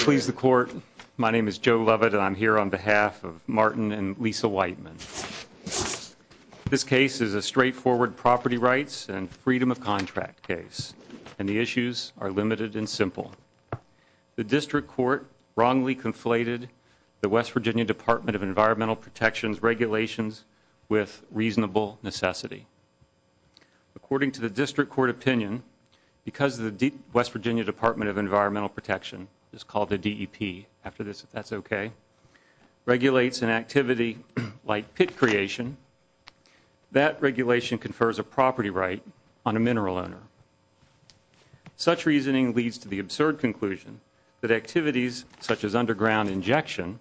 Please the court. My name is Joe Lovett. I'm here on behalf of Martin and Lisa Whiteman. This case is a straightforward property rights and freedom of contract case, and the issues are limited and simple. The district court wrongly conflated the West Virginia Department of Environmental Protection's regulations with reasonable necessity. According to the district court opinion, because of the deep West Virginia Department of Environmental Protection is called the D. E. P. After this, that's okay, regulates an activity like pit creation. That regulation confers a property right on a mineral owner. Such reasoning leads to the absurd conclusion that activities such as underground injection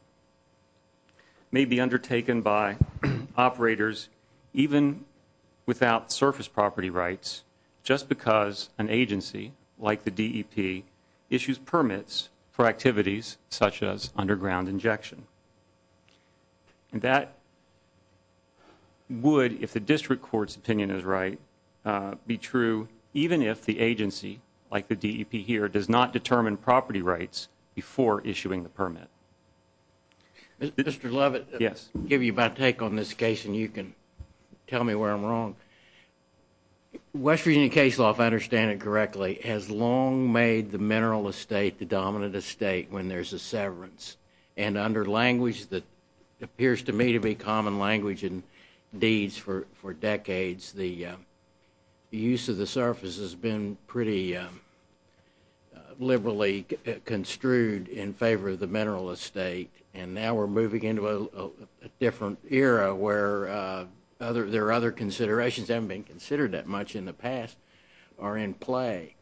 may be undertaken by operators even without surface property rights just because an agency like the D. E. P. Issues permits for activities such as underground injection. That would, if the district court's opinion is right, be true even if the agency, like the D. E. P. Here does not determine property rights before issuing the permit. Mr Lovett. Yes. Give you my take on this case, and you can tell me where I'm wrong. West Virginia case law, if I understand it correctly, has long made the mineral estate the dominant estate when there's a severance and under language that appears to me to be common language and deeds for decades. The use of the surface has been pretty liberally construed in favor of the mineral estate, and now we're moving into a different era where other there are other considerations haven't been considered that much in the past are in play.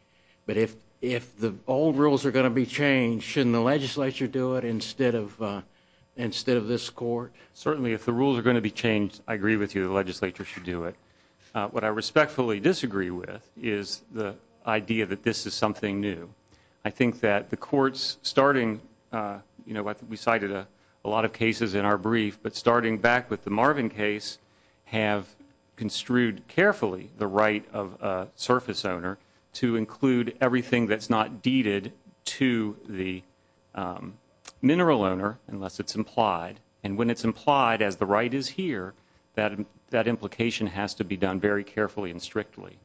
But if if the old rules are going to be changed, shouldn't the legislature do it instead of instead of this court? Certainly, if the rules are going to be changed, I agree with you. The legislature should do it. What I respectfully disagree with is the idea that this is something new. I think that the court's starting, you know, we cited a lot of cases in our brief, but starting back with the Marvin case, have construed carefully the right of surface owner to include everything that's not deeded to the, um, mineral owner unless it's implied. And when it's implied as the right is here, that that implication has to be done very carefully and strictly.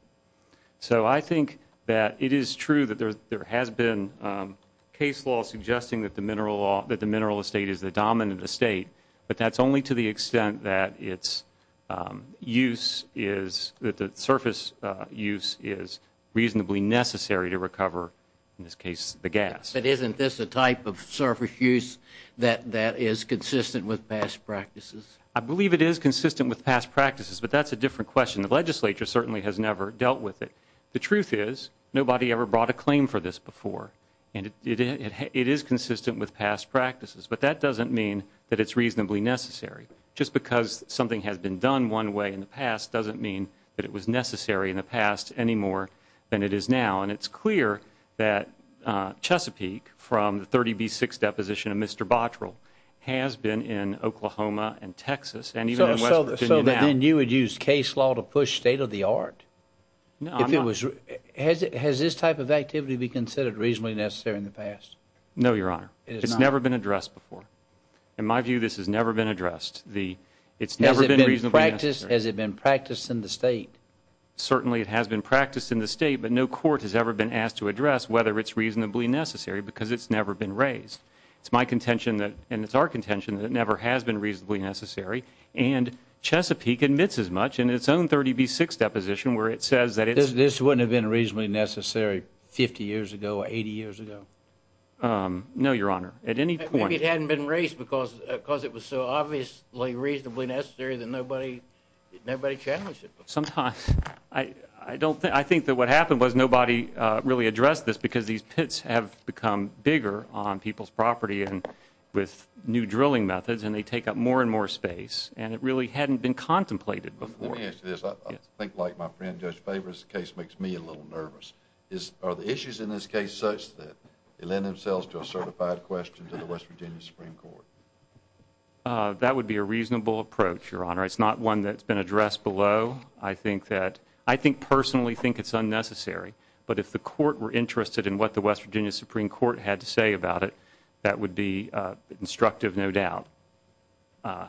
So I think that it is true that there has been, um, case law suggesting that the mineral that the mineral estate is the dominant estate. But that's only to the extent that it's, um, use is that the surface use is reasonably necessary to recover, in this case, the gas. But isn't this a type of surface use that that is consistent with past practices? I believe it is consistent with past practices, but that's a different question. The legislature certainly has never dealt with it. The truth is, it is consistent with past practices, but that doesn't mean that it's reasonably necessary. Just because something has been done one way in the past doesn't mean that it was necessary in the past anymore than it is now. And it's clear that Chesapeake from the 30 B six deposition of Mr Bottrell has been in Oklahoma and Texas and even so that you would use case law to push state of the art. If it was, has this type of activity be considered reasonably necessary in the past? No, Your Honor, it's never been addressed before. In my view, this has never been addressed. The it's never been reasonable practice. Has it been practiced in the state? Certainly it has been practiced in the state, but no court has ever been asked to address whether it's reasonably necessary because it's never been raised. It's my contention that and it's our contention that never has been reasonably necessary. And Chesapeake admits as much in its own 30 B six deposition where it says that this wouldn't have been reasonably necessary 50 years ago, 80 years ago. Um, no, Your Honor, at any point it hadn't been raised because because it was so obviously reasonably necessary than nobody. Nobody challenged it. Sometimes I don't think I think that what happened was nobody really addressed this because these pits have become bigger on people's property and with new drilling methods and they take up more and more space and it really hadn't been contemplated before. I think like my friend, Judge Faber's case makes me a little nervous. Is are the issues in this case such that they lend themselves to a certified question to the West Virginia Supreme Court? Uh, that would be a reasonable approach, Your Honor. It's not one that's been addressed below. I think that I think personally think it's unnecessary. But if the court were interested in what the West Virginia Supreme Court had to say about it, that would be instructive. No doubt. Uh,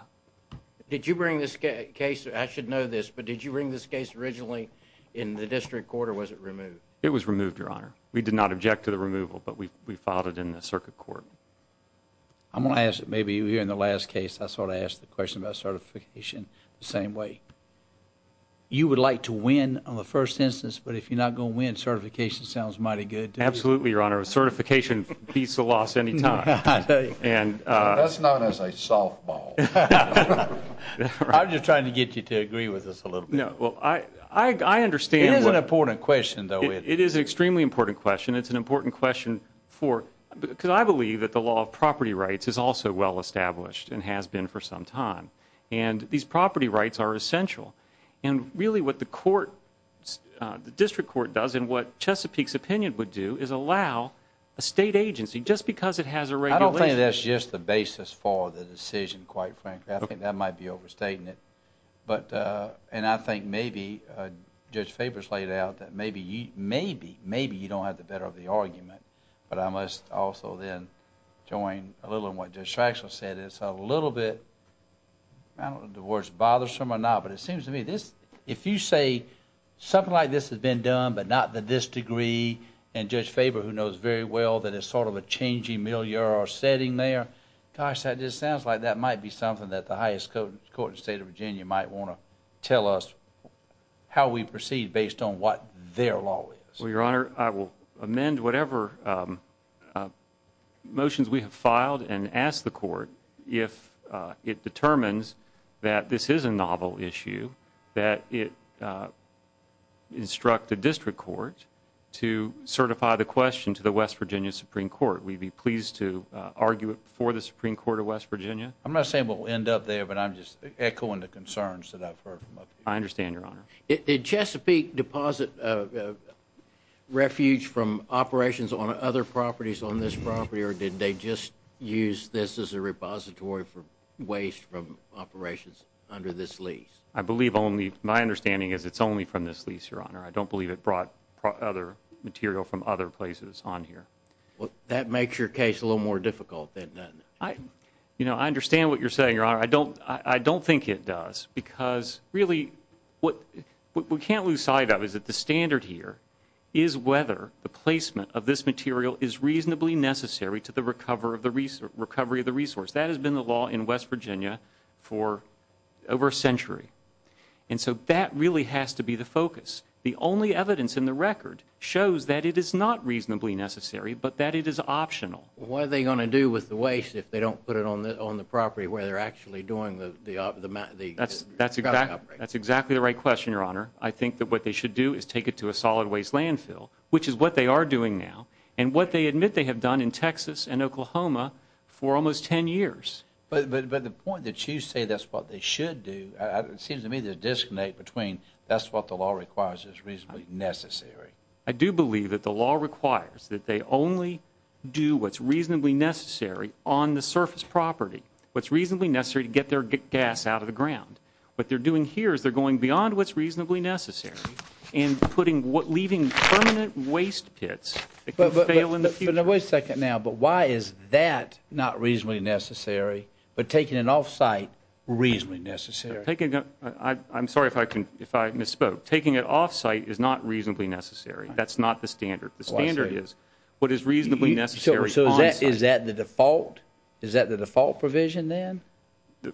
did you bring this case? I should know this. But did you bring this case originally in the district court? Or was it removed? It was removed, Your Honor. We did not object to the removal, but we we filed it in the circuit court. I'm gonna ask. Maybe you're in the last case. I sort of asked the question about certification the same way you would like to win on the first instance. But if you're not gonna win, certification sounds mighty good. Absolutely, Your Honor. A certification beats the loss any time. And that's not as a softball. I'm just trying to get you to agree with us a little bit. Well, I understand. It is an important question, though. It is extremely important question. It's an important question for because I believe that the law of property rights is also well established and has been for some time. And these property rights are essential. And really, what the court, the district court does and what a state agency just because it has a radio, I don't think that's just the basis for the decision. Quite frankly, I think that might be overstating it. But and I think maybe, uh, Judge Faber's laid out that maybe, maybe, maybe you don't have the better of the argument. But I must also then join a little of what distraction said. It's a little bit the worst bothersome or not. But it seems to me this if you say something like this has been done, but not that this degree and Judge Faber, who knows very well that it's sort of a changing mill your setting there. Gosh, that just sounds like that might be something that the highest court in the state of Virginia might want to tell us how we proceed based on what their law is. Well, Your Honor, I will amend whatever, um, uh, motions we have filed and asked the court if it determines that this is a novel issue, that it, uh, instruct the district court to certify the question to the West Virginia Supreme Court. We'd be pleased to argue it for the Supreme Court of West Virginia. I'm not saying we'll end up there, but I'm just echoing the concerns that I've heard. I understand, Your Honor. Did Chesapeake deposit refuge from operations on other properties on this property? Or did they just use this as a repository for waste from operations under this lease? I believe only my understanding is it's only from this lease, Your Honor. I don't believe it brought other material from other places on here. Well, that makes your case a little more difficult than that. I, you know, I understand what you're saying, Your Honor. I don't I don't think it does, because really what we can't lose sight of is that the standard here is whether the placement of this material is reasonably necessary to the recovery of the resource. That has been the law in West Virginia for over a century. And so that really has to be the focus. The only evidence in the record shows that it is not reasonably necessary, but that it is optional. What are they gonna do with the waste if they don't put it on the on the property where they're actually doing the the the that's that's exactly that's exactly the right question, Your Honor. I think that what they should do is take it to a solid waste landfill, which is what they are doing now and what they admit they have done in Texas and Oklahoma for almost 10 years. But the point that you say that's what they should do. It seems to me the disconnect between that's what the law requires is reasonably necessary. I do believe that the law requires that they only do what's reasonably necessary on the surface property. What's reasonably necessary to get their gas out of the ground. What they're doing here is they're going beyond what's reasonably necessary and putting what leaving permanent waste pits. But wait a second now. But why is that not reasonably necessary? But taking it off site reasonably necessary. I'm sorry if I can. If I misspoke, taking it off site is not reasonably necessary. That's not the standard. The standard is what is reasonably necessary. So is that the default? Is that the default provision then?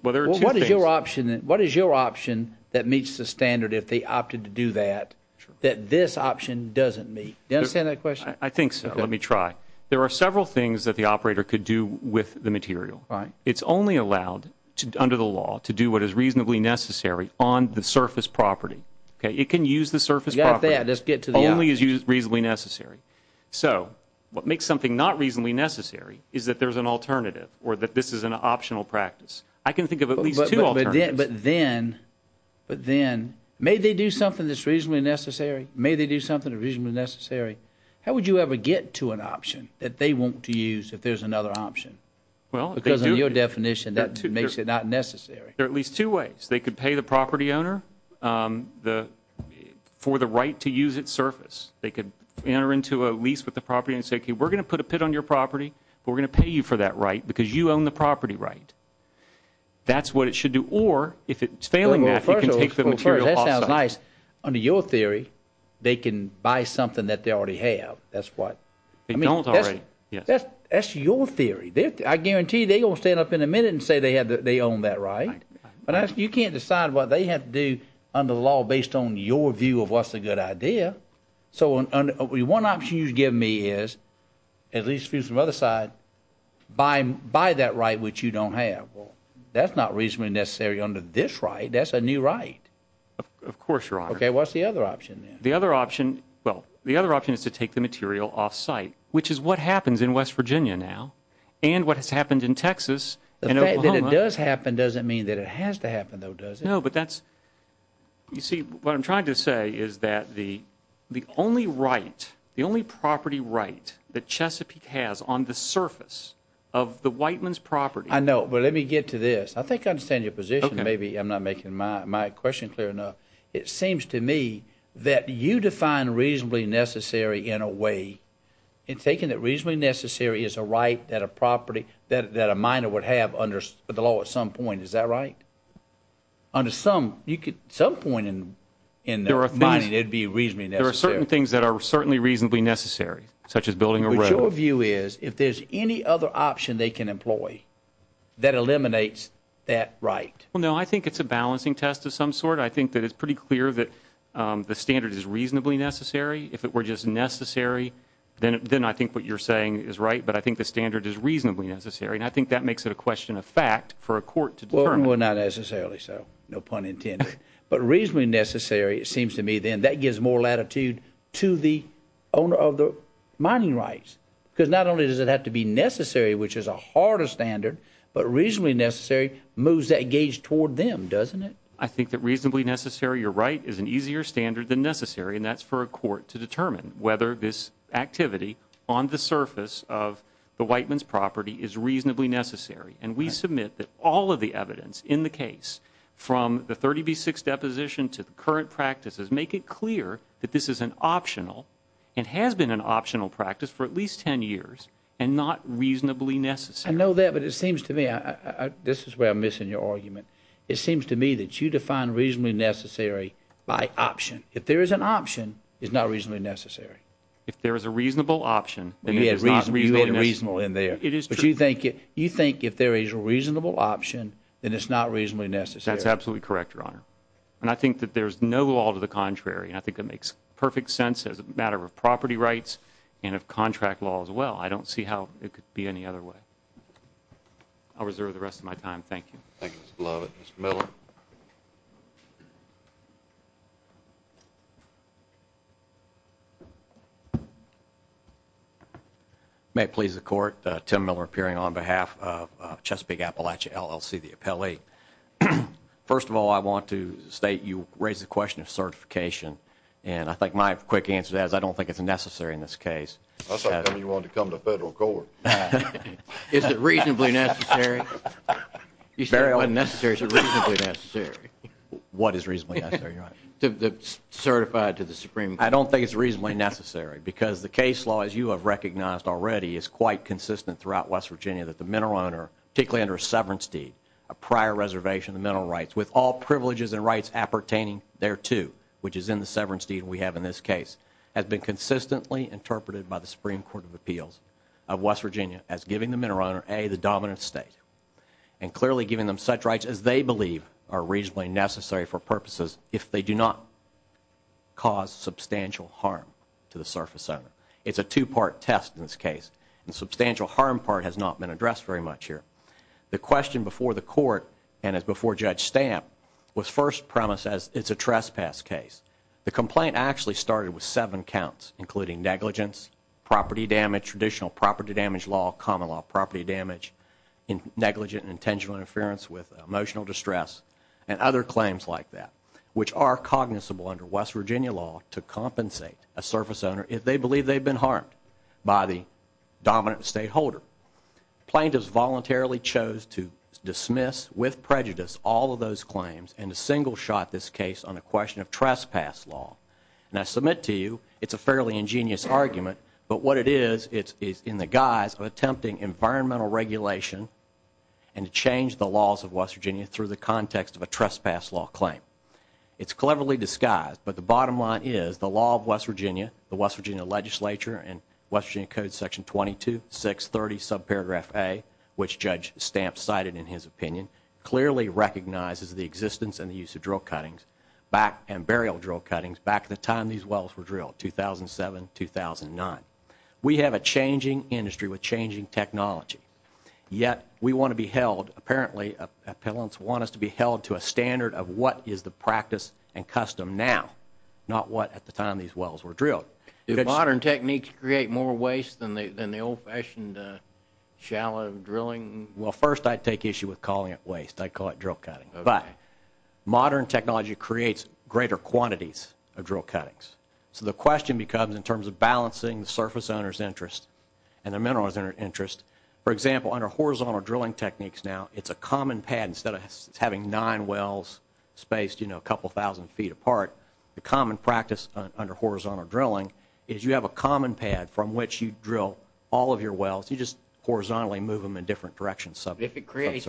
Well, there's your option. What is your option that meets the standard if they opted to do that, that this option doesn't meet? You understand that question? I think so. Let me try. There are several things that the operator could do with the material, right? It's only allowed to under the law to do what is reasonably necessary on the surface property. Okay, it can use the surface. Let's get to the only is used reasonably necessary. So what makes something not reasonably necessary is that there's an alternative or that this is an optional practice. I can think of at least two. But then, but then, may they do something that's reasonably necessary? May they do something reasonably necessary? How would you ever get to an option that they want to use if there's another option? Well, because of your definition, that makes it not necessary. There are at least two ways. They could pay the property owner, um, the for the right to use its surface. They could enter into a lease with the property and say, we're gonna put a pit on your property. We're gonna pay you for that, right? Because you own the property, right? That's what it should do. Or if it's failing that, you can take the material. That sounds nice. Under your theory, they can buy something that they already have. That's what they don't. That's your theory. I guarantee they gonna stand up in a minute and say they had they own that right. But you can't decide what they have to do under the law based on your view of what's a good idea. So one option you give me is at least through some other side by by that right, which you don't have. Well, that's not reasonably necessary under this right. That's a new right. Of course, you're on. Okay, what's the other option? The other option? Well, the other option is to take the material off site, which is what happens in West Virginia now and what has happened in Texas. The fact that it does happen doesn't mean that it has to happen, though, does it? No, but that's you see what I'm trying to say is that the the only right, the only property right that Chesapeake has on the surface of the Whiteman's property. I know. But let me get to this. I think I understand your position. Maybe I'm not making my my question clear enough. It seems to me that you define reasonably necessary in a way it's taken that reasonably necessary is a right that a property that that a minor would have under the law at some point. Is that right? Under some you could some point in in there are finding it would be reasonably necessary. Certain things that are certainly reasonably necessary, such as building a review is if there's any other option they can of some sort. I think that it's pretty clear that the standard is reasonably necessary. If it were just necessary, then then I think what you're saying is right. But I think the standard is reasonably necessary, and I think that makes it a question of fact for a court to turn. We're not necessarily so no pun intended, but reasonably necessary. It seems to me then that gives more latitude to the owner of the mining rights because not only does it have to be necessary, which is a harder standard, but reasonably necessary moves that age toward them, doesn't it? I think that reasonably necessary. You're right is an easier standard than necessary, and that's for a court to determine whether this activity on the surface of the Whiteman's property is reasonably necessary. And we submit that all of the evidence in the case from the 30 B six deposition to the current practices make it clear that this is an optional and has been an optional practice for at least 10 years and not reasonably necessary. I know that, but it seems to me this is where I'm missing your argument. It seems to me that you define reasonably necessary by option. If there is an option is not reasonably necessary. If there is a reasonable option, then it is not reasonably reasonable in there. It is. But you think you think if there is a reasonable option, then it's not reasonably necessary. That's absolutely correct, Your Honor. And I think that there's no law to the contrary, and I think it makes perfect sense as a matter of property rights and of contract law as well. I don't see how it could be any other way. I'll reserve the rest of my time. Thank you. Love it. Miller may please the court. Tim Miller appearing on behalf of Chesapeake Appalachia LLC. The appellee. First of all, I want to state you raise the question of certification, and I think my quick answer is I don't think it's necessary in this case. You want to come to federal court? Is it reasonably necessary? You said it wasn't necessary to reasonably necessary. What is reasonably necessary? Certified to the Supreme? I don't think it's reasonably necessary because the case law, as you have recognized already, is quite consistent throughout West Virginia that the mineral owner, particularly under a severance deed, a prior reservation of mental rights with all privileges and rights appertaining thereto, which is in the severance deed we have in this case, has been consistently interpreted by the Supreme Court of Appeals of West Virginia as giving the mineral owner a the dominant state and clearly giving them such rights as they believe are reasonably necessary for purposes if they do not cause substantial harm to the surface owner. It's a two part test in this case, and substantial harm part has not been addressed very much here. The question before the court and before Judge Stamp was first premises. It's a trespass case. The complaint actually started with seven counts, including negligence, property damage, traditional property damage, law, common law, property damage, negligent, intentional interference with emotional distress and other claims like that, which are cognizable under West Virginia law to compensate a surface owner if they believe they've been harmed by the dominant state holder. Plaintiffs voluntarily chose to dismiss with prejudice all of those claims and a single shot this case on a question of trespass law. And I submit to you it's a fairly ingenious argument. But what it is, it's in the guise of attempting environmental regulation and change the laws of West Virginia through the context of a trespass law claim. It's cleverly disguised. But the bottom line is the law of West Virginia, the West Virginia Legislature and Western Code Section 22 6 30 subparagraph a which Judge Stamp cited in his opinion clearly recognizes the existence and the use of drill cuttings back and burial drill cuttings. Back at the time these wells were drilled 2007 2009. We have a changing industry with changing technology, yet we want to be held. Apparently, uh, appellants want us to be held to a standard of what is the practice and custom now, not what at the time these wells were drilled. Modern techniques create more waste than the old fashioned shallow drilling. Well, first, I take issue with calling it waste. I call it drill cutting, but modern technology creates greater quantities of drill cuttings. So the question becomes in terms of balancing the surface owners interest and the minerals in our interest, for example, under horizontal drilling techniques. Now it's a common pad instead of having nine wells spaced, you know, a couple of 1000 ft apart. The common practice under horizontal drilling is you have a common pad from which you drill all of your wells. You just horizontally move in different directions. So if it creates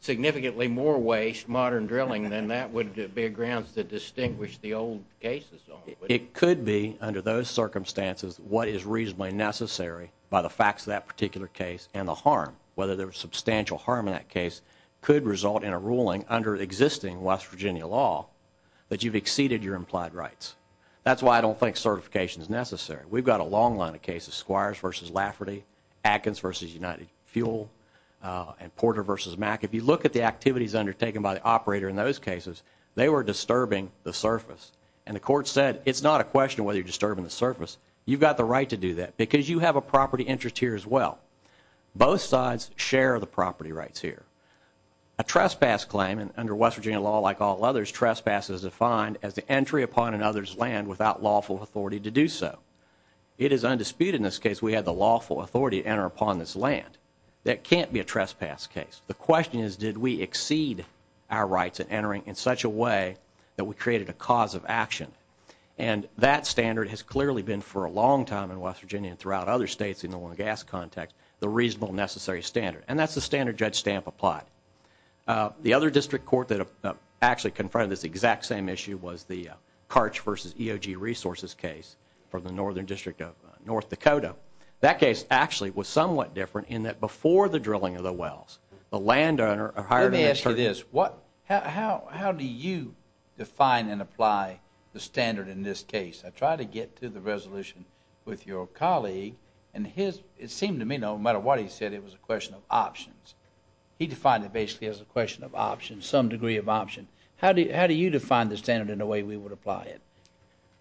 significantly more waste, modern drilling, then that would be a grounds that distinguish the old cases. It could be under those circumstances what is reasonably necessary by the facts of that particular case and the harm, whether there was substantial harm in that case could result in a ruling under existing West Virginia law that you've exceeded your implied rights. That's why I don't think certification is necessary. We've got a long line of cases, Squires versus Lafferty, Atkins versus United Fuel, uh, and Porter versus Mac. If you look at the activities undertaken by the operator in those cases, they were disturbing the surface and the court said it's not a question whether you're disturbing the surface. You've got the right to do that because you have a property interest here as well. Both sides share the property rights here. A trespass claim and under West Virginia law, like all others, trespass is defined as the entry upon another's land without lawful authority to do so. It is undisputed. In upon this land, that can't be a trespass case. The question is, did we exceed our rights and entering in such a way that we created a cause of action? And that standard has clearly been for a long time in West Virginia and throughout other states in the oil and gas context, the reasonable necessary standard. And that's the standard judge stamp applied. Uh, the other district court that actually confronted this exact same issue was the Carch versus E. O. G. Was somewhat different in that before the drilling of the wells, the land owner hired an answer this. What? How? How do you define and apply the standard? In this case, I try to get to the resolution with your colleague and his. It seemed to me no matter what he said, it was a question of options. He defined it basically as a question of options, some degree of option. How do you How do you define the standard in a way we would apply it?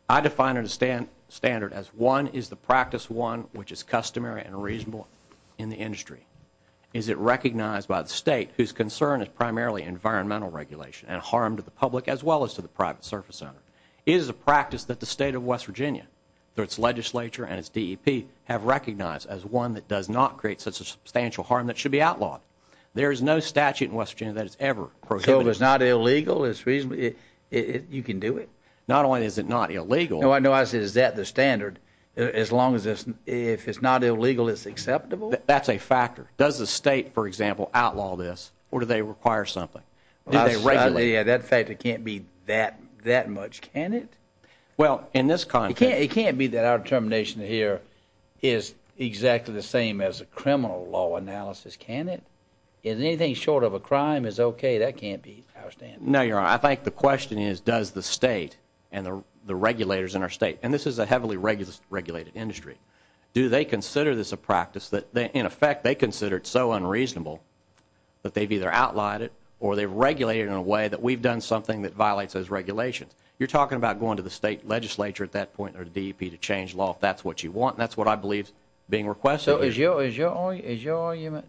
I define it a and standard as one is the practice one which is customary and reasonable in the industry. Is it recognized by the state whose concern is primarily environmental regulation and harm to the public as well as to the private surface center is a practice that the state of West Virginia through its legislature and its D. E. P. Have recognized as one that does not create such a substantial harm that should be outlawed. There is no statute in West Virginia that is ever prohibit. It's not illegal. It's reasonably you can do it. Not only is it not illegal, I know I said, is that the standard? As long as this, if it's not illegal, it's acceptable. That's a factor. Does the state, for example, outlaw this or do they require something? Yeah, that fact, it can't be that that much. Can it? Well, in this country, it can't be that our determination here is exactly the same as a criminal law analysis. Can it is anything short of a crime is okay. That can't be outstanding. No, I think the question is, does the state and the regulators in our state and this is a heavily regulated industry. Do they consider this a practice that in effect they considered so unreasonable that they've either outlined it or they've regulated in a way that we've done something that violates those regulations. You're talking about going to the state legislature at that point or D. P. To change law. If that's what you want, that's what I believe being requested is your is your is your argument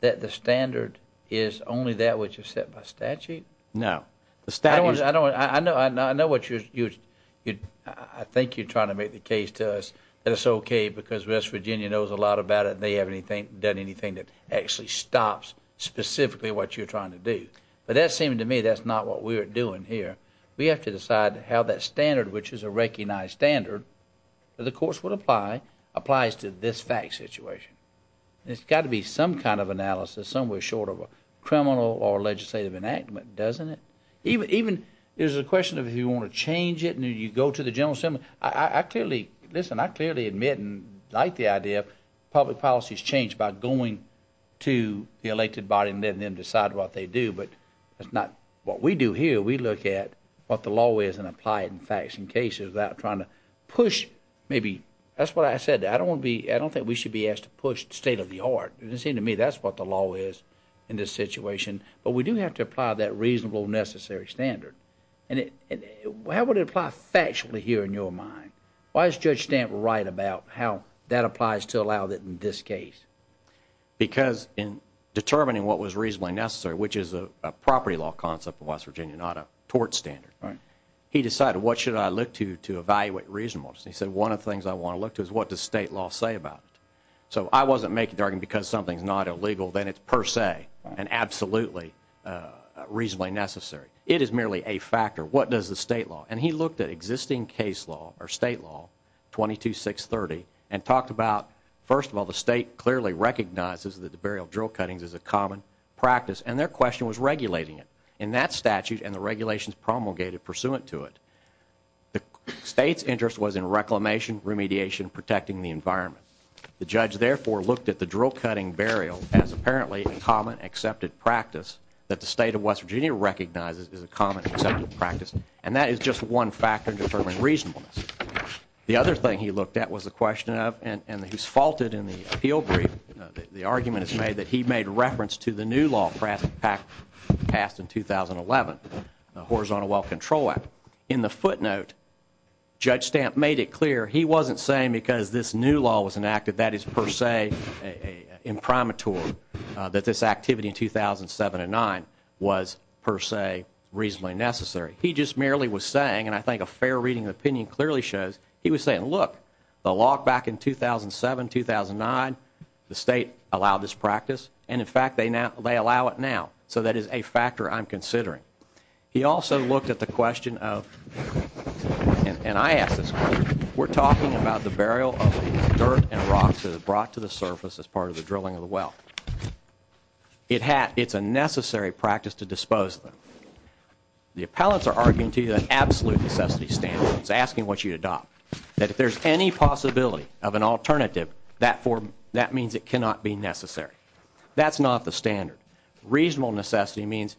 that the standard is only that which is set by statute. No, I don't. I don't. I know. I know. I know what you're you. I think you're trying to make the case to us that it's okay because West Virginia knows a lot about it. They have anything done anything that actually stops specifically what you're trying to do. But that seemed to me that's not what we're doing here. We have to decide how that standard, which is a recognized standard, the course would apply applies to this fact situation. It's got to be some kind of analysis somewhere short of a criminal or legislative enactment, doesn't it? Even even there's a question of if you want to change it and you go to the General Assembly. I clearly listen. I clearly admit and like the idea of public policies changed by going to the elected body and then then decide what they do. But that's not what we do here. We look at what the law is and apply it in facts and cases without trying to push. Maybe that's what I said. I don't want to be. I don't think we should be asked to push state of the art. It seemed to me that's what the law is in this situation. But we do have to apply that reasonable, necessary standard. And how would it apply factually here in your mind? Why is Judge Stamp right about how that applies to allow that in this case? Because in determining what was reasonably necessary, which is a property law concept of West Virginia, not a tort standard, he decided what should I look to to evaluate reasonableness? He said, One of the things I want to look to is what the state law say about it. So I wasn't making darken because something's not illegal, then it's per se and absolutely reasonably necessary. It is merely a factor. What does the state law? And he looked at existing case law or state law 22 6 30 and talked about first of all, the state clearly recognizes that the burial drill cuttings is a common practice, and their question was regulating it in that statute and the regulations promulgated pursuant to it. The state's interest was in reclamation, remediation, protecting the environment. The judge, therefore, looked at the drill cutting burial as apparently common accepted practice that the state of West Virginia recognizes is a common practice, and that is just one factor in determining reasonableness. The other thing he looked at was the question of and and who's faulted in the appeal brief. The argument is made that he made reference to the new law. Pratt Pack passed in 2011 horizontal well control act in the footnote. Judge Stamp made it clear he wasn't saying because this new law was enacted. That is, per se, imprimatur that this activity in 2007 and nine was, per se, reasonably necessary. He just merely was saying, and I think a fair reading opinion clearly shows he was saying, Look, the log back in 2007 2009. The state allowed this practice, and in fact, they now they allow it now. So that is a factor I'm considering. He also looked at the question of and I asked this. We're talking about the burial of dirt and rocks that brought to the surface as part of the drilling of the well. It had. It's a necessary practice to dispose of them. The appellants are arguing to you that absolute necessity standards asking what you adopt that if there's any possibility of an alternative that form, that means it cannot be necessary. That's not the standard. Reasonable could have shipped it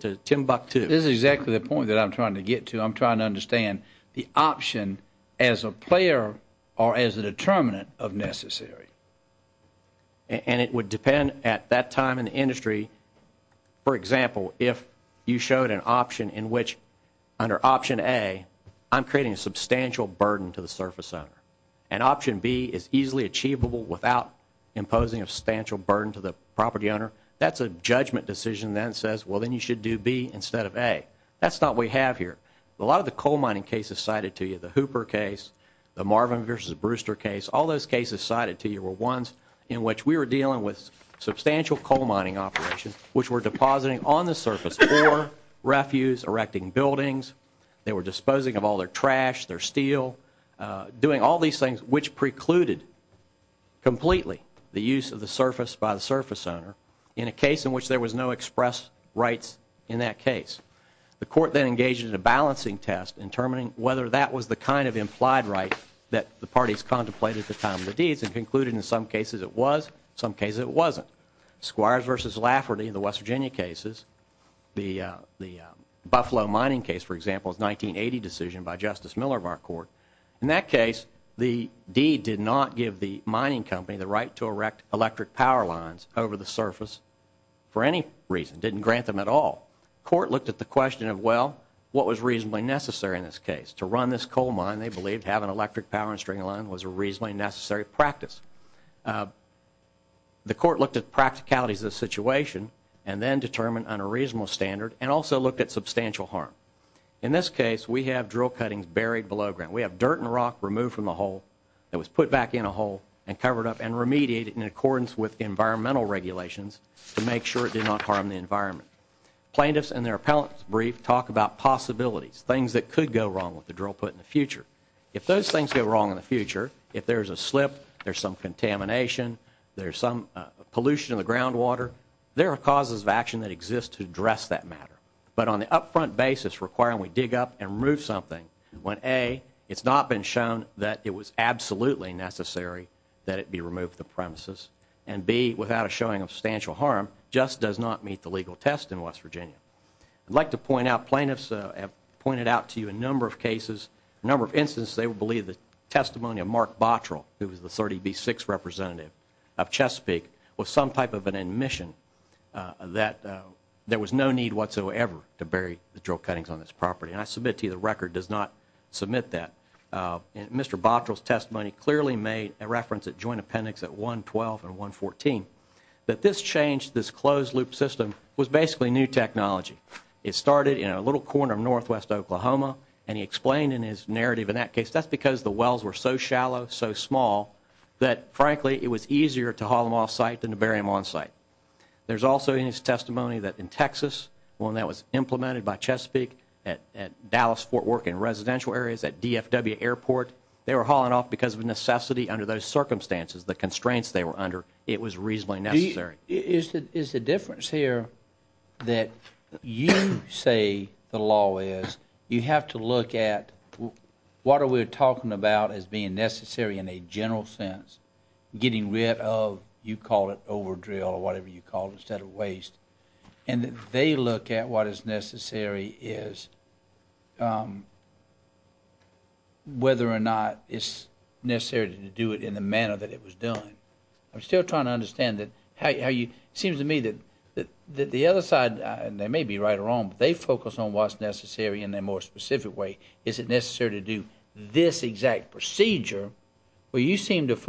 to Timbuktu. This is exactly the point that I'm trying to get to. I'm trying to understand the option as a player or as a determinant of necessary, and it would depend at that time in the industry. For example, if you showed an option in which under Option A, I'm creating a substantial burden to the surface owner, an option B is easily achievable without imposing a substantial burden to the property owner. That's a judgment decision that says, Well, then you should do be instead of a that's not we have here. A lot of the coal mining cases cited to you the Hooper case, the Marvin versus Brewster case. All those cases cited to you were ones in which we were dealing with substantial coal mining operations, which were depositing on the surface for refuse, erecting buildings. They were disposing of all their trash, their steel doing all these things, which precluded completely the use of the surface by the surface owner in a case in which there was no express rights. In that case, the court then engaged in a balancing test and determining whether that was the kind of implied right that the parties contemplated the time of the deeds and concluded. In some cases, it was some case. It wasn't Squires versus Lafferty, the West Virginia cases. The Buffalo mining case, for example, is 1980 decision by Justice Miller of our court. In that case, the deed did not give the mining company the right to electric power lines over the surface for any reason. Didn't grant them at all. Court looked at the question of well, what was reasonably necessary in this case to run this coal mine? They believed having electric power and string alone was a reasonably necessary practice. Uh, the court looked at practicalities of the situation and then determined on a reasonable standard and also looked at substantial harm. In this case, we have drill cuttings buried below ground. We have dirt and rock removed from the hole that was put back in a hole and covered up and remediated in accordance with environmental regulations to make sure it did not harm the environment. Plaintiffs and their appellate brief talk about possibilities, things that could go wrong with the drill put in the future. If those things go wrong in the future, if there's a slip, there's some contamination, there's some pollution of the groundwater. There are causes of action that exists to address that matter. But on the upfront basis requiring we dig up and remove something when a it's not been shown that it was absolutely necessary that it be removed the premises and be without showing a substantial harm just does not meet the legal test in West Virginia. I'd like to point out plaintiffs have pointed out to you a number of cases, a number of instances. They will believe the testimony of Mark Bottrell, who was the 30 B six representative of Chesapeake with some type of an admission that there was no need whatsoever to bury the drill cuttings on this property. And I submit to you the record does not submit that. Uh, Mr Bottrell's testimony clearly made a reference that joint appendix at 1 12 and 1 14 that this changed. This closed loop system was basically new technology. It started in a little corner of northwest Oklahoma, and he explained in his narrative. In that case, that's because the wells were so shallow, so small that, frankly, it was easier to haul him off site than to bury him on site. There's also in his work in residential areas at D. F. W. Airport. They were hauling off because of necessity. Under those circumstances, the constraints they were under, it was reasonably necessary. Is the difference here that you say the law is you have to look at what are we're talking about as being necessary in a general sense, getting rid of you call it over drill or whatever you call instead of waste and they look at what is necessary is, um, whether or not it's necessary to do it in the manner that it was done. I'm still trying to understand that how you seems to me that the other side, they may be right or wrong, but they focus on what's necessary in their more specific way. Is it necessary to do this exact procedure where you seem to get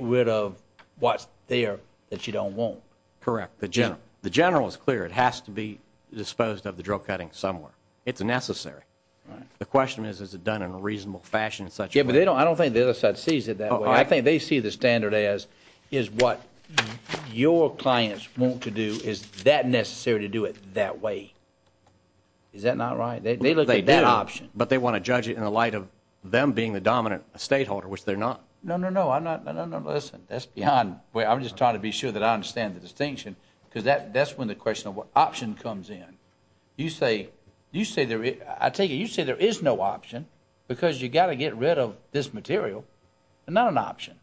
rid of what's there that you don't want? Correct. The general. The general is clear. It has to be disposed of the drill cutting somewhere. It's necessary. The question is, is it done in a reasonable fashion such? Yeah, but they don't. I don't think the other side sees it that way. I think they see the standard as is what your clients want to do. Is that necessary to do it that way? Is that not right? They look like that option, but they want to judge it in the light of them being the dominant estate holder, which they're not. No, no, no. I'm not. No, no, no. Listen, that's behind where I'm just trying to be sure that I understand the distinction because that that's when the question of what option comes in. You say, you say there, I take it. You say there is no option because you got to get rid of this material and not an option.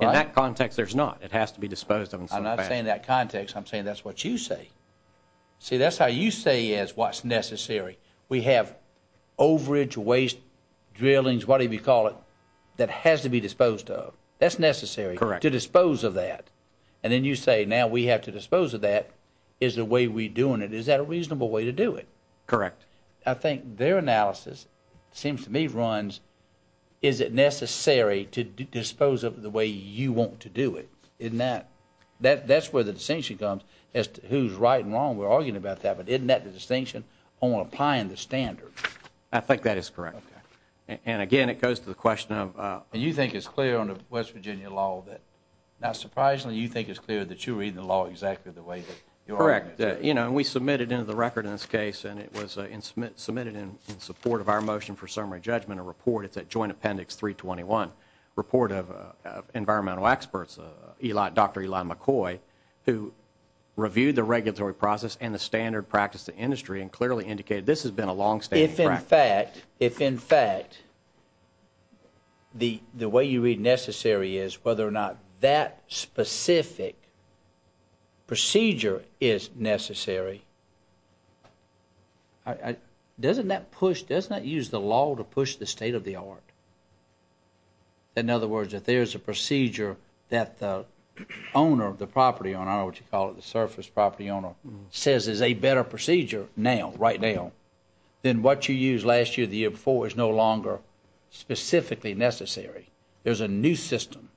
In that context, there's not. It has to be disposed of. I'm not saying that context. I'm saying that's what you say. See, that's how you say is what's necessary. We have overage waste drillings. What do you call it that has to be disposed of? That's necessary to dispose of that. And then you say now we have to dispose of that is the way we're doing it. Is that a reasonable way to do it? Correct. I think their analysis seems to me runs. Is it necessary to dispose of the way you want to do it in that that that's where the distinction comes as to who's right and wrong. We're arguing about that, but isn't that the distinction on applying the standard? I think that is correct. And again, it goes to the question of, uh, you think it's clear on the West Virginia law that not surprisingly, you think it's clear that you read the law exactly the way that you're correct. You know, we submitted into the record in this case, and it was submitted in support of our motion for summary judgment. A report. It's a joint appendix 3 21 report of environmental experts. Eli Dr Eli McCoy, who reviewed the regulatory process and the standard practice to industry and clearly indicated this has a long stay. In fact, if in fact the way you read necessary is whether or not that specific procedure is necessary. I doesn't that push does not use the law to push the state of the art. In other words, if there's a procedure that the owner of the property on our what you call it, the surface property owner says is a better procedure now right now, then what you use last year the year before is no longer specifically necessary. There's a new system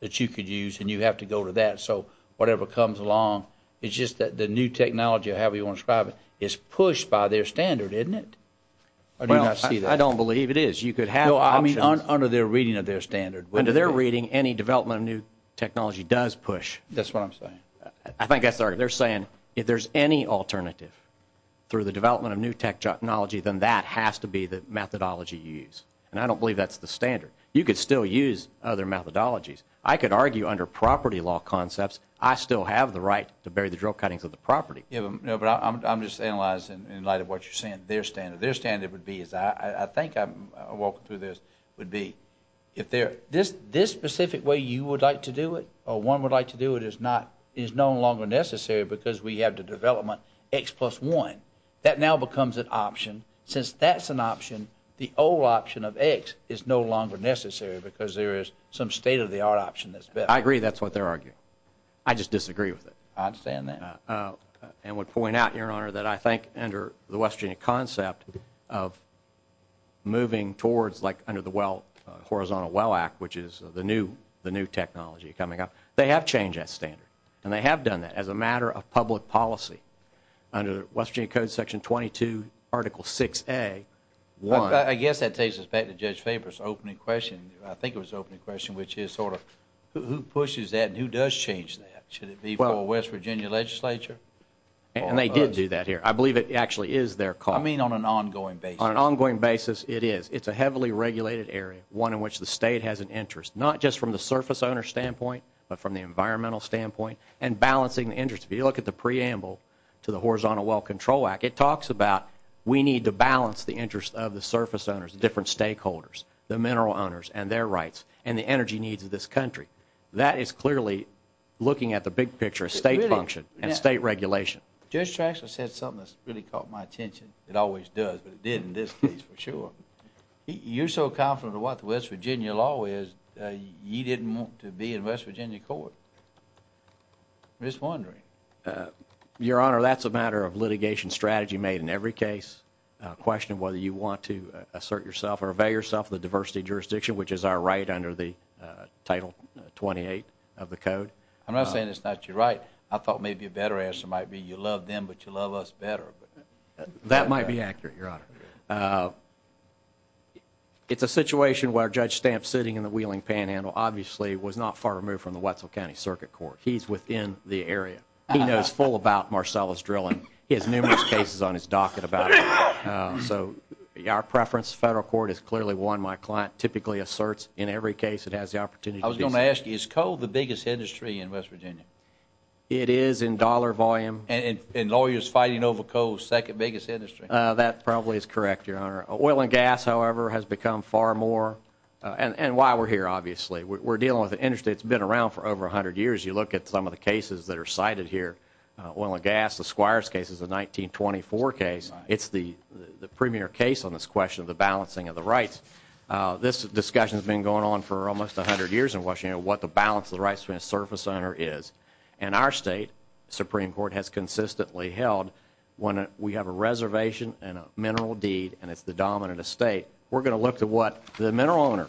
that you could use, and you have to go to that. So whatever comes along, it's just that the new technology, however you want to describe it, is pushed by their standard, isn't it? I do not see that. I don't believe it is. You could have I mean, under their reading of their standard under their reading, any development of new technology does push. That's what I'm saying. I think that's our they're any alternative through the development of new technology than that has to be the methodology use, and I don't believe that's the standard. You could still use other methodologies. I could argue under property law concepts. I still have the right to bury the drill cuttings of the property. No, but I'm just analyzing in light of what you're saying. Their standard, their standard would be is I think I'm walking through this would be if they're this this specific way you would like to do it or one would like to do it is not is no longer necessary because we have the development X plus one that now becomes an option. Since that's an option, the old option of X is no longer necessary because there is some state of the art option. That's I agree. That's what they're arguing. I just disagree with it. I'm saying that, uh, and would point out your honor that I think under the Western concept of moving towards like under the Well, Horizontal Well Act, which is the new the new technology coming up, they have changed that standard and they have done that as a matter of public policy under Western Code Section 22 Article six a one. I guess that takes us back to Judge Faber's opening question. I think it was opening question, which is sort of who pushes that? Who does change that? Should it be for West Virginia Legislature? And they did do that here. I believe it actually is their call. I mean, on an ongoing, on an ongoing basis, it is. It's a heavily regulated area, one in which the state has an interest, not just from the surface owner standpoint, but from the environmental standpoint and balancing the interest. If you look at the preamble to the Horizontal Well Control Act, it talks about we need to balance the interest of the surface owners, different stakeholders, the mineral owners and their rights and the energy needs of this country. That is clearly looking at the big picture of state function and state regulation. Judge Traction said something that's really caught my attention. It always does, but it didn't this case for sure. You're so confident of what the West Virginia law is. You didn't want to be in West Virginia court. Just wondering, uh, Your Honor, that's a matter of litigation strategy made in every case question whether you want to assert yourself or avail yourself of the diversity jurisdiction, which is our right under the title 28 of the code. I'm not saying it's not you're right. I thought maybe a better answer might be. You love them, but you love us better. That might be accurate. Your honor. Uh, it's a situation where Judge Stamp sitting in the wheeling panhandle obviously was not far removed from the Wetzel County Circuit Court. He's within the area. He knows full about Marcella's drilling. He has numerous cases on his docket about eso. Our preference. Federal court is clearly one. My client typically asserts in every case it has the opportunity. I was gonna ask you is called the biggest industry in West Virginia. It is in dollar volume and lawyers fighting over cold. Second biggest industry. That probably is correct. Your honor. Oil and gas, however, has become far more on why we're here. Obviously, we're dealing with industry. It's been around for over 100 years. You look at some of the cases that are cited here. Oil and gas. The Squires case is a 1924 case. It's the premier case on this question of the balancing of the rights. This discussion has been going on for almost 100 years in Washington. What the balance of the rights of a surface owner is and our state Supreme Court has consistently held when we have a mineral deed and it's the dominant estate, we're gonna look to what the mineral owner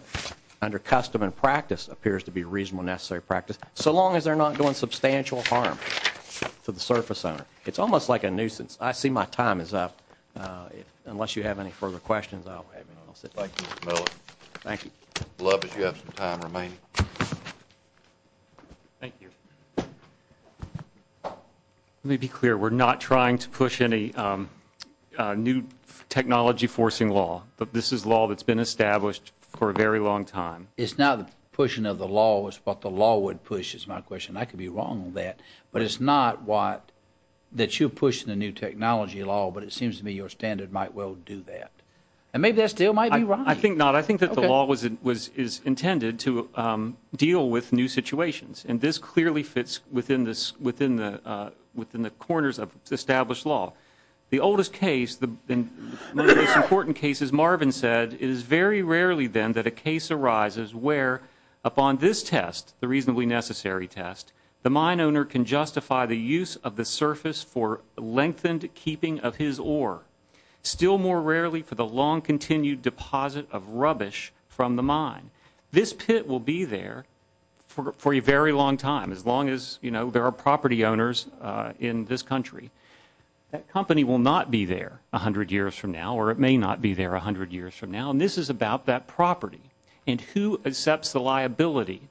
under custom and practice appears to be reasonable, necessary practice. So long as they're not doing substantial harm for the surface owner, it's almost like a nuisance. I see my time is up. Uh, unless you have any further questions, I'll have it. Thank you. Love is you have some time remaining. Thank you. Mhm. Let me be clear. We're not trying to push any, um, new technology forcing law. But this is law that's been established for a very long time. It's not pushing of the law was what the law would push is my question. I could be wrong on that, but it's not what that you push the new technology law. But it seems to me your standard might well do that. And maybe that still might be right. I think not. I think that the law was was is intended to, um, deal with new situations. And this clearly fits within this within the within the corners of established law. The oldest case, the most important cases, Marvin said, is very rarely than that. A case arises where upon this test, the reasonably necessary test, the mine owner can justify the use of the surface for lengthened keeping of his or still more rarely for the long continued deposit of rubbish from the mind. This pit will be there for a very long time. As long as you know, there are property owners in this country. That company will not be there 100 years from now, or it may not be there 100 years from now. And this is about that property and who accepts the liability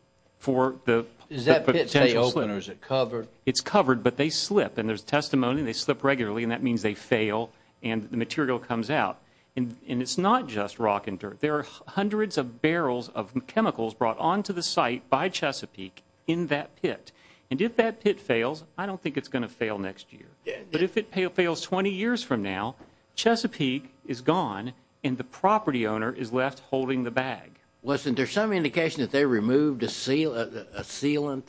for the potential winners. It covered. It's covered, but they slip and there's testimony. They slip regularly, and that means they fail and the material comes out. And it's not just rock and dirt. There are hundreds of barrels of chemicals brought onto the site by Chesapeake in that pit. And if that pit fails, I don't think it's gonna fail next year. But if it fails 20 years from now, Chesapeake is gone, and the property owner is left holding the bag. Wasn't there some indication that they removed a seal? A sealant?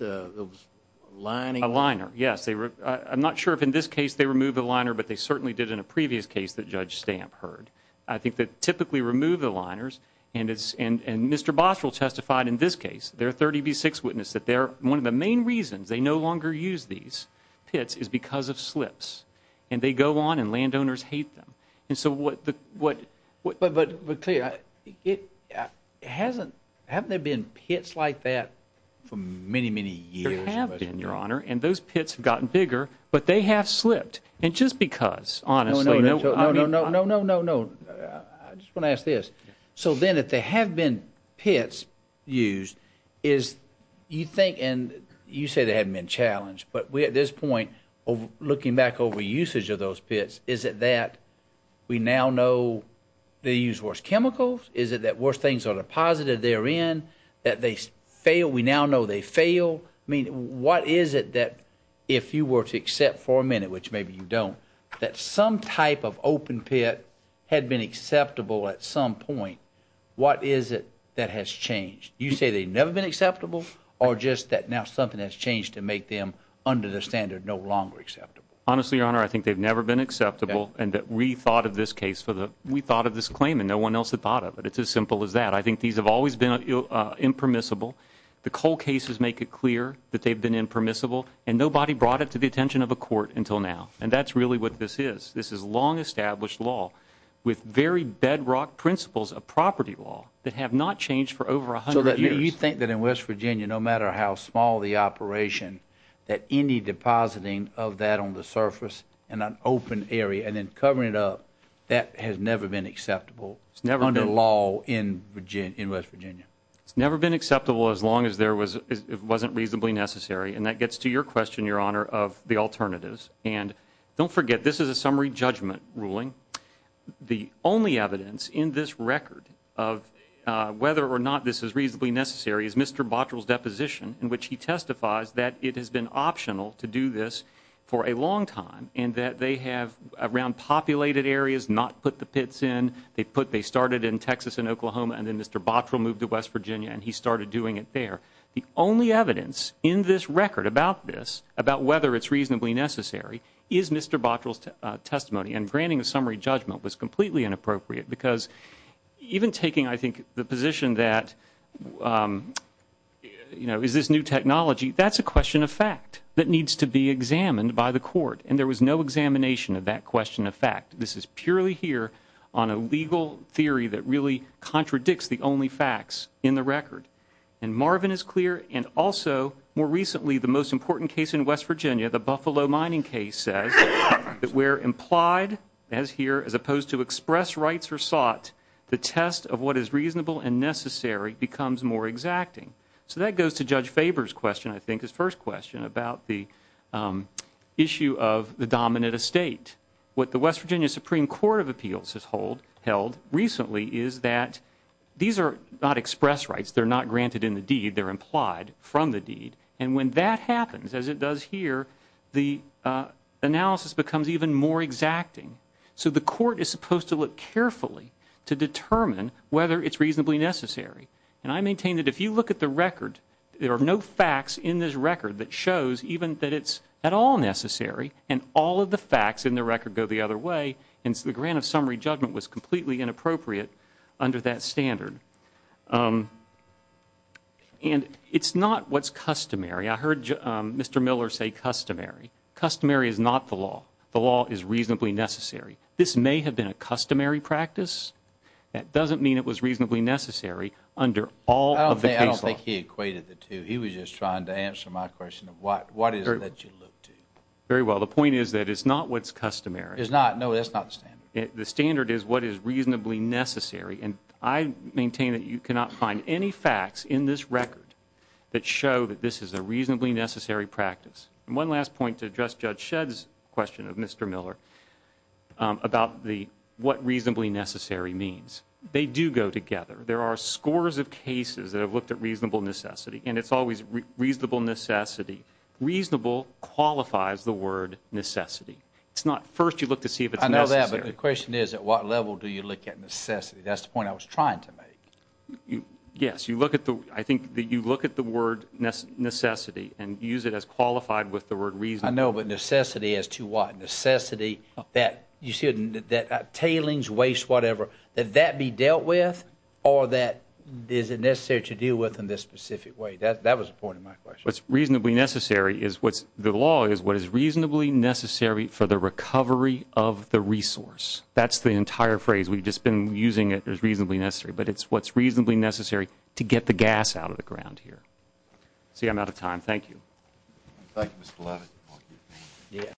Lining a liner? Yes, they were. I'm not sure if, in this case, they remove the previous case that Judge Stamp heard. I think that typically remove the liners and it's and Mr Boswell testified in this case, their 30 B six witness that they're one of the main reasons they no longer use these pits is because of slips, and they go on and landowners hate them. And so what? What? But we're clear it hasn't. Haven't there been pits like that for many, many years have been, Your Honor, and those pits have gotten bigger, but they have and just because, honestly, no, no, no, no, no, no, no, no. I just wanna ask this. So then, if they have been pits used, is you think? And you say they haven't been challenged. But we at this point, looking back over usage of those pits, is it that we now know they use worse chemicals? Is it that worse things on a positive there in that they fail? We now know they fail. I mean, what is it that if you were to accept for a minute, which maybe you don't, that some type of open pit had been acceptable at some point? What is it that has changed? You say they've never been acceptable or just that now something has changed to make them under the standard no longer acceptable. Honestly, Your Honor, I think they've never been acceptable and that we thought of this case for the we thought of this claim and no one else had thought of it. It's as simple as that. I think these have always been impermissible. The coal cases make it clear that they've been impermissible and nobody brought it to the attention of a court until now. And that's really what this is. This is long established law with very bedrock principles of property law that have not changed for over 100 years. You think that in West Virginia, no matter how small the operation that any depositing of that on the surface and an open area and then covering it up that has never been acceptable. It's never under law in Virginia in West Virginia. It's never been acceptable as long as there was. It wasn't reasonably necessary. And that gets to your question, Your Honor of the alternatives. And don't forget, this is a summary judgment ruling. The only evidence in this record of whether or not this is reasonably necessary is Mr Bottrell's deposition in which he testifies that it has been optional to do this for a long time and that they have around populated areas not put the pits in. They put they started in Texas and Oklahoma. And then Mr Bottrell moved to West Virginia and he started doing it there. The only evidence in this record about this, about whether it's reasonably necessary, is Mr Bottrell's testimony and granting a summary judgment was completely inappropriate because even taking, I think, the position that, um, you know, is this new technology? That's a question of fact that needs to be examined by the court. And there was no examination of that question of fact. This is purely here on a legal theory that really contradicts the only facts in the record. And Marvin is clear. And also, more recently, the most important case in West Virginia, the Buffalo mining case says that we're implied as here as opposed to express rights or sought the test of what is reasonable and necessary becomes more exacting. So that goes to Judge Faber's question. I think his first question about the, um, issue of the dominant estate. What the West Virginia Supreme Court of Appeals has held recently is that these are not expressed rights. They're not granted in the deed. They're implied from the deed. And when that happens, as it does here, the analysis becomes even more exacting. So the court is supposed to look carefully to determine whether it's reasonably necessary. And I maintain that if you look at the record, there are no facts in this record that shows even that it's at all necessary. And all of the facts in the record go the other way. And so the grant of summary judgment was completely inappropriate under that standard. Um, and it's not what's customary. I heard Mr Miller say customary customary is not the law. The law is reasonably necessary. This may have been a customary practice. That doesn't mean it was reasonably necessary under all of the case. I don't think he equated the two. He was just trying to answer my question of what? What is that you look to? Very well. The point is that it's not what's customary is not. No, that's not the standard. The standard is what is reasonably necessary. And I maintain that you cannot find any facts in this record that show that this is a reasonably necessary practice. And one last point to address Judge Sheds question of Mr Miller about the what reasonably necessary means. They do go together. There are scores of cases that have looked at reasonable necessity, and it's always reasonable necessity. Reasonable qualifies the word necessity. It's not. First, you look to see if I know that. But the question is, at what level do you look at necessity? That's the point I was trying to make. Yes, you look at the I think that you look at the word necessity and use it as qualified with the word reason. I know. But necessity as to what necessity that you shouldn't that tailings waste whatever that that be dealt with or that is it necessary to deal with in this specific way that that was a point of my question. What's reasonably necessary is what's the law is what is reasonably necessary for the recovery of the resource. That's the entire phrase. We've just been using it as reasonably necessary, but it's what's reasonably necessary to get the gas out of the ground here. See, I'm out of time. Thank you. Thank you, Mr Levitt. Yeah.